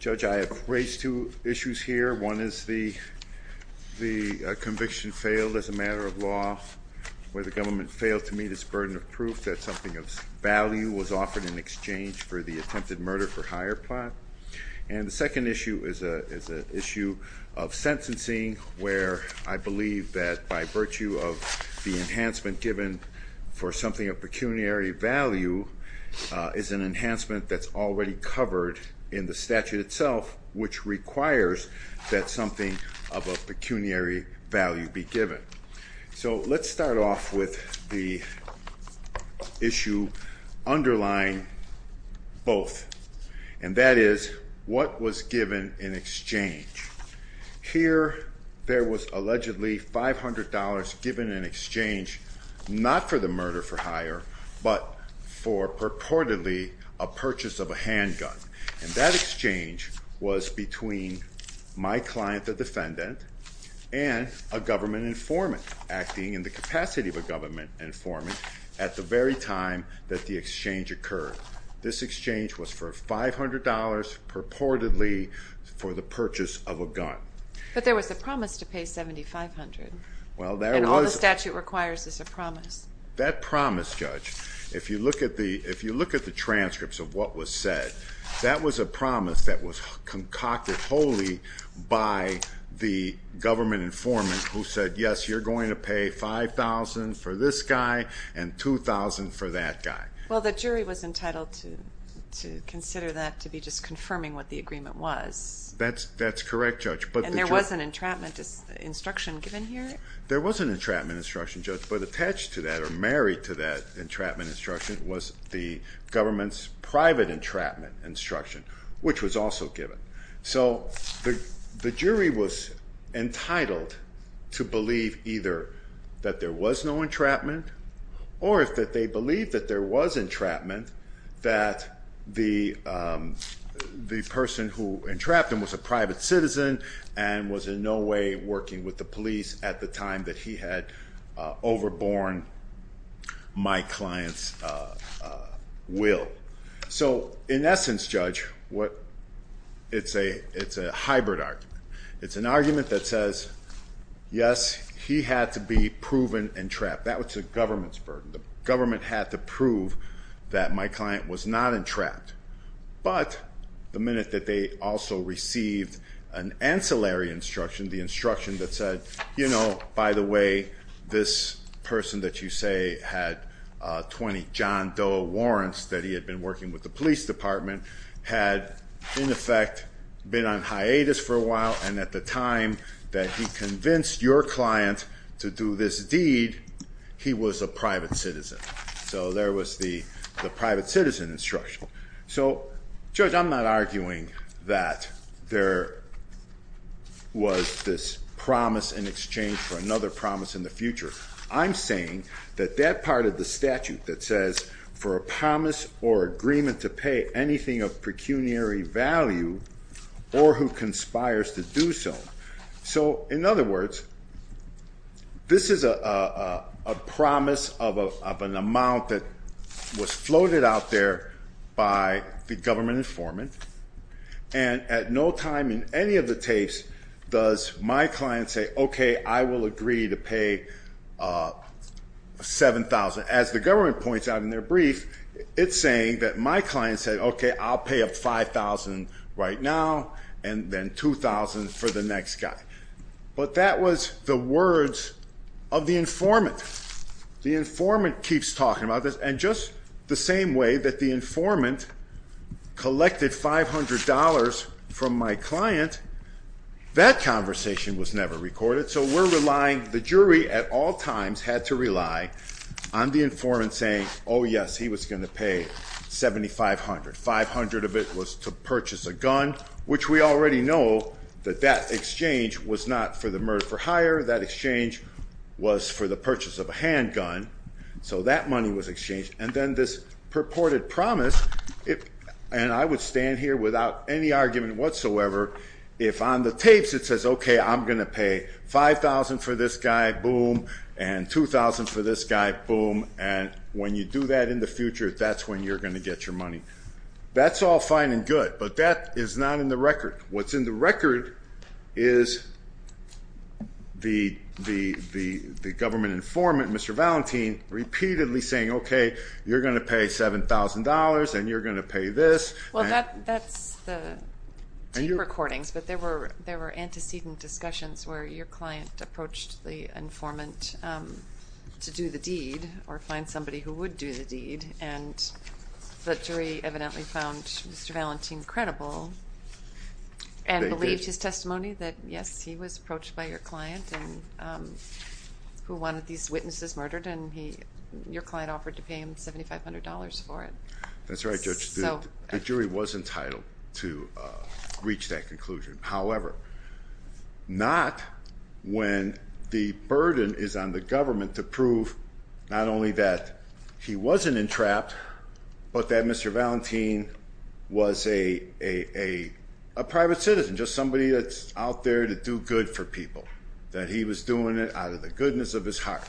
Judge, I have raised two issues here. One is that the United States v. Euripides Caguana is the conviction failed as a matter of law, where the government failed to meet its burden of proof that something of value was offered in exchange for the attempted murder-for-hire plot. And the second issue is a issue of sentencing, where I believe that by virtue of the enhancement given for something of pecuniary value is an enhancement that's already covered in the statute itself, which requires that something of a pecuniary value be given. So let's start off with the issue underlying both, and that is what was given in exchange. Here there was allegedly $500 given in exchange not for the murder-for-hire, but for purportedly a purchase of a handgun. And that exchange was between my client, the defendant, and a government informant acting in the capacity of a government informant at the very time that the exchange occurred. This exchange was for $500 purportedly for the purchase of a gun. But there was a promise to pay $7,500. Well, there was. And all the statute requires is a promise. That promise, Judge, if you look at the transcripts of what was said, that was a promise that was concocted wholly by the government informant who said, yes, you're going to pay $5,000 for this guy and $2,000 for that guy. Well, the jury was entitled to consider that to be just confirming what the agreement was. That's correct, Judge. And there was an entrapment instruction given here? There was an entrapment instruction, Judge, but attached to that or married to that entrapment instruction was the government's private entrapment instruction, which was also given. So the jury was entitled to believe either that there was no entrapment or that they believed that there was entrapment, that the person who entrapped him was a private citizen and was in no way working with the police at the time that he had overborne my client's will. So in essence, Judge, it's a hybrid argument. It's an argument that says, yes, he had to be proven entrapped. That was the government's burden. The government had to prove that my client was not entrapped. But the minute that they also received an ancillary instruction, the instruction that said, you know, by the way, this person that you say had 20 John Doe warrants that he had been working with the police department had, in effect, been on hiatus for a while, and at the time that he convinced your client to do this deed, he was a private citizen. So there was the private citizen instruction. So, Judge, I'm not arguing that there was this promise in exchange for another promise in the future. I'm saying that that part of the statute that says for a promise or agreement to pay anything of pecuniary value or who conspires to do so. So, in other words, this is a promise of an amount that was floated out there by the government informant, and at no time in any of the tapes does my client say, okay, I will agree to pay 7,000. As the government points out in their brief, it's saying that my client said, okay, I'll pay up 5,000 right now, and then 2,000 for the next guy. But that was the words of the informant. The informant keeps talking about this, and just the same way that the informant collected $500 from my client, that conversation was never recorded. So we're relying, the jury at all times had to rely on the informant saying, yes, he was going to pay 7,500. 500 of it was to purchase a gun, which we already know that that exchange was not for the murder for hire. That exchange was for the purchase of a handgun. So that money was exchanged. And then this purported promise, and I would stand here without any argument whatsoever, if on the tapes it says, okay, I'm going to pay 5,000 for this guy, boom, and 2,000 for this guy, boom. And when you do that in the future, that's when you're going to get your money. That's all fine and good, but that is not in the record. What's in the record is the government informant, Mr. Valentin, repeatedly saying, okay, you're going to pay $7,000 and you're going to pay this. Well, that's the tape recordings, but there were antecedent discussions where your client approached the informant to do the deed or find somebody who would do the deed. And the jury evidently found Mr. Valentin credible and believed his testimony that, yes, he was approached by your client who wanted these witnesses murdered, and your client offered to pay him $7,500 for it. That's right, Judge. The jury was entitled to reach that conclusion. However, not when the burden is on the government to prove not only that he wasn't entrapped, but that Mr. Valentin was a private citizen, just somebody that's out there to do good for people, that he was doing it out of the goodness of his heart.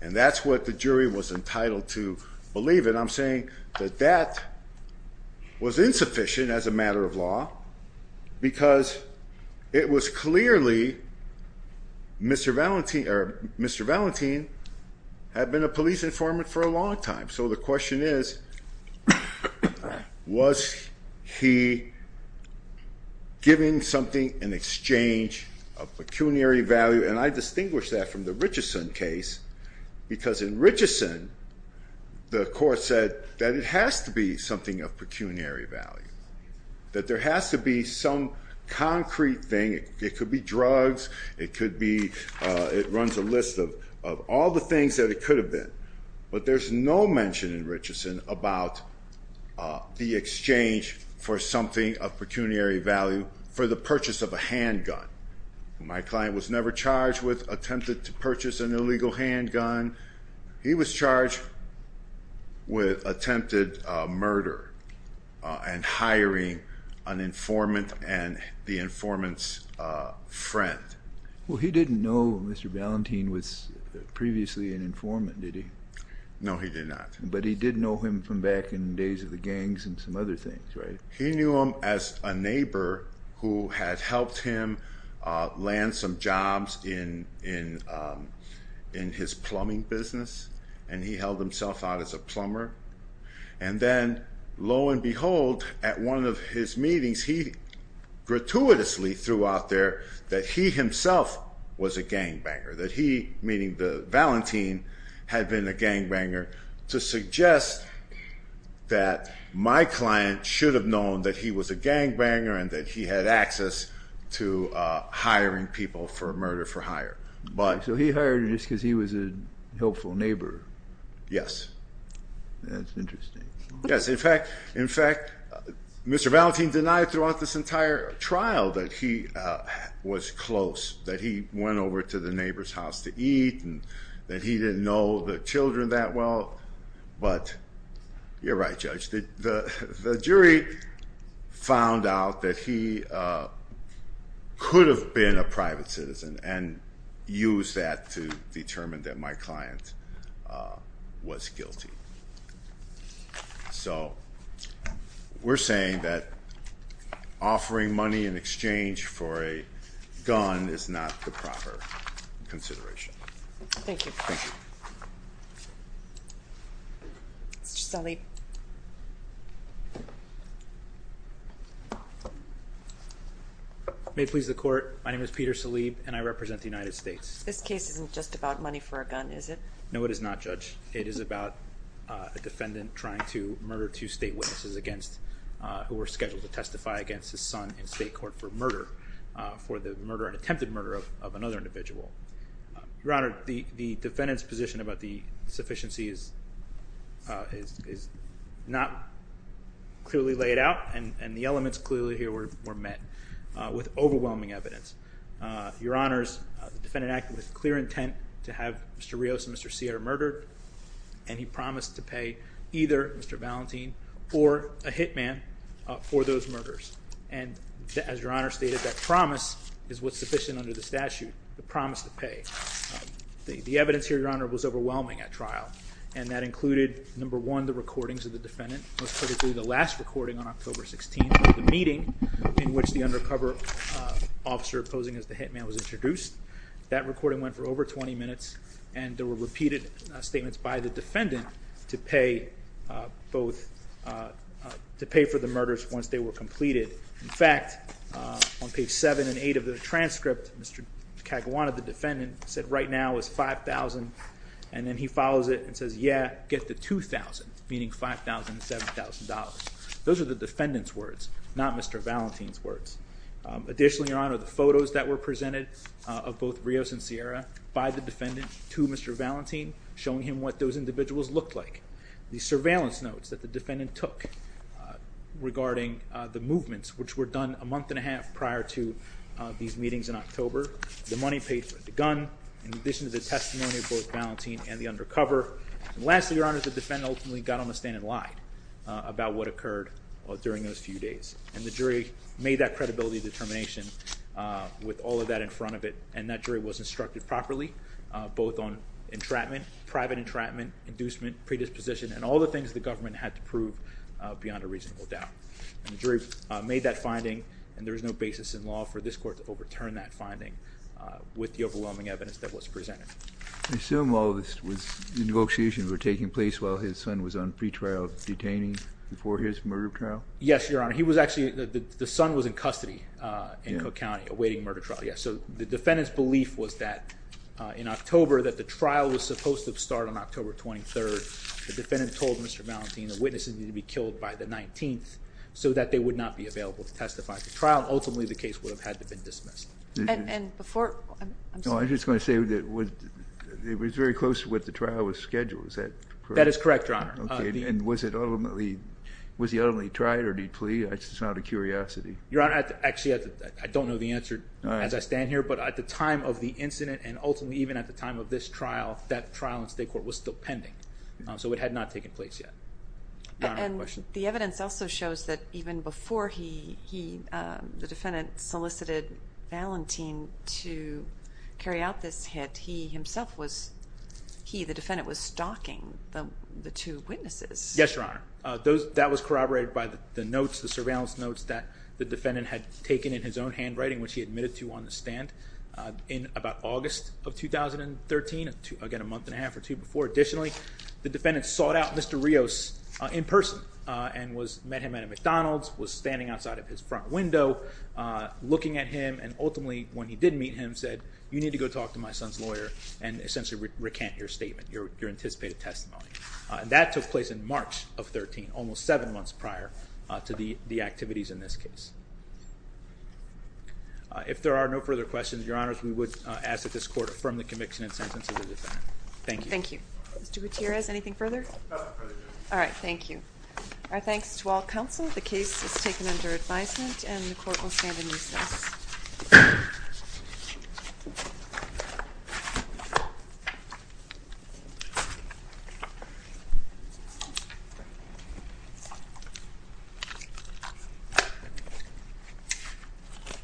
And that's what the jury was entitled to believe. And I'm saying that that was insufficient as a matter of law because it was clearly Mr. Valentin had been a police informant for a long time. So the question is, was he giving something in exchange of pecuniary value? And I distinguish that from the Richeson case because in Richeson, the court said that it has to be something of pecuniary value, that there has to be some concrete thing. It could be drugs. It could be it runs a list of all the things that it could have been. But there's no mention in Richeson about the exchange for something of pecuniary value for the purchase of a handgun. My client was never charged with attempted to purchase an illegal handgun. He was charged with attempted murder and hiring an informant and the informant's friend. Well, he didn't know Mr. Valentin was previously an informant, did he? No, he did not. But he did know him from back in the days of the gangs and some other things, right? He knew him as a neighbor who had helped him land some jobs in his plumbing business, and he held himself out as a plumber. And then lo and behold, at one of his meetings, he gratuitously threw out there that he himself was a gangbanger, that he, meaning Valentin, had been a gangbanger to suggest that my client should have known that he was a gangbanger and that he had access to hiring people for murder for hire. So he hired him just because he was a helpful neighbor? Yes. That's interesting. Yes. In fact, Mr. Valentin denied throughout this entire trial that he was close, that he went over to the neighbor's house to eat and that he didn't know the children that well. But you're right, Judge, the jury found out that he could have been a private citizen and used that to determine that my client was guilty. So we're saying that offering money in exchange for a gun is not the proper consideration. Thank you. Thank you. Mr. Salib. May it please the Court, my name is Peter Salib, and I represent the United States. This case isn't just about money for a gun, is it? No, it is not, Judge. It is about a defendant trying to murder two state witnesses against, who were scheduled to testify against his son in state court for murder, for the murder, an attempted murder of another individual. Your Honor, the defendant's position about the sufficiency is not clearly laid out, and the elements clearly here were met with overwhelming evidence. Your Honor, the defendant acted with clear intent to have Mr. Rios and Mr. Sierra murdered, and he promised to pay either Mr. Valentin or a hitman for those murders. And as Your Honor stated, that promise is what's sufficient under the statute, the promise to pay. The evidence here, Your Honor, was overwhelming at trial, and that included, number one, the recordings of the defendant, most critically the last recording on October 16th of the meeting in which the undercover officer posing as the hitman was introduced. That recording went for over 20 minutes, and there were repeated statements by the defendant to pay for the murders once they were completed. In fact, on page 7 and 8 of the transcript, Mr. Caguana, the defendant, said right now is $5,000, and then he follows it and says, yeah, get the $2,000, meaning $5,000 and $7,000. Those are the defendant's words, not Mr. Valentin's words. Additionally, Your Honor, the photos that were presented of both Rios and Sierra by the defendant to Mr. Valentin, showing him what those individuals looked like. The surveillance notes that the defendant took regarding the movements, which were done a month and a half prior to these meetings in October. The money paid for the gun, in addition to the testimony of both Valentin and the undercover. And lastly, Your Honor, the defendant ultimately got on the stand and lied about what occurred during those few days. And the jury made that credibility determination with all of that in front of it. And that jury was instructed properly, both on entrapment, private entrapment, inducement, predisposition, and all the things the government had to prove beyond a reasonable doubt. And the jury made that finding, and there is no basis in law for this court to overturn that finding with the overwhelming evidence that was presented. I assume all of this was – the negotiations were taking place while his son was on pretrial detaining before his murder trial? Yes, Your Honor. He was actually – the son was in custody in Cook County awaiting murder trial, yes. So the defendant's belief was that in October, that the trial was supposed to start on October 23rd. The defendant told Mr. Valentin that witnesses needed to be killed by the 19th so that they would not be available to testify at the trial. Ultimately, the case would have had to have been dismissed. And before – I'm sorry. No, I was just going to say that it was very close to what the trial was scheduled. Is that correct? That is correct, Your Honor. Okay. And was it ultimately – was he ultimately tried or did he plead? It's just out of curiosity. Your Honor, actually, I don't know the answer as I stand here. But at the time of the incident and ultimately even at the time of this trial, that trial in state court was still pending. So it had not taken place yet. And the evidence also shows that even before he – the defendant solicited Valentin to carry out this hit, he himself was – Yes, Your Honor. That was corroborated by the notes, the surveillance notes that the defendant had taken in his own handwriting, which he admitted to on the stand in about August of 2013. Again, a month and a half or two before. Additionally, the defendant sought out Mr. Rios in person and was – met him at a McDonald's, was standing outside of his front window looking at him and ultimately when he did meet him said, you need to go talk to my son's lawyer and essentially recant your statement, your anticipated testimony. That took place in March of 2013, almost seven months prior to the activities in this case. If there are no further questions, Your Honors, we would ask that this court affirm the conviction and sentence of the defendant. Thank you. Thank you. Mr. Gutierrez, anything further? Nothing further, Your Honor. All right, thank you. Our thanks to all counsel. The case is taken under advisement and the court will stand in recess. Thank you.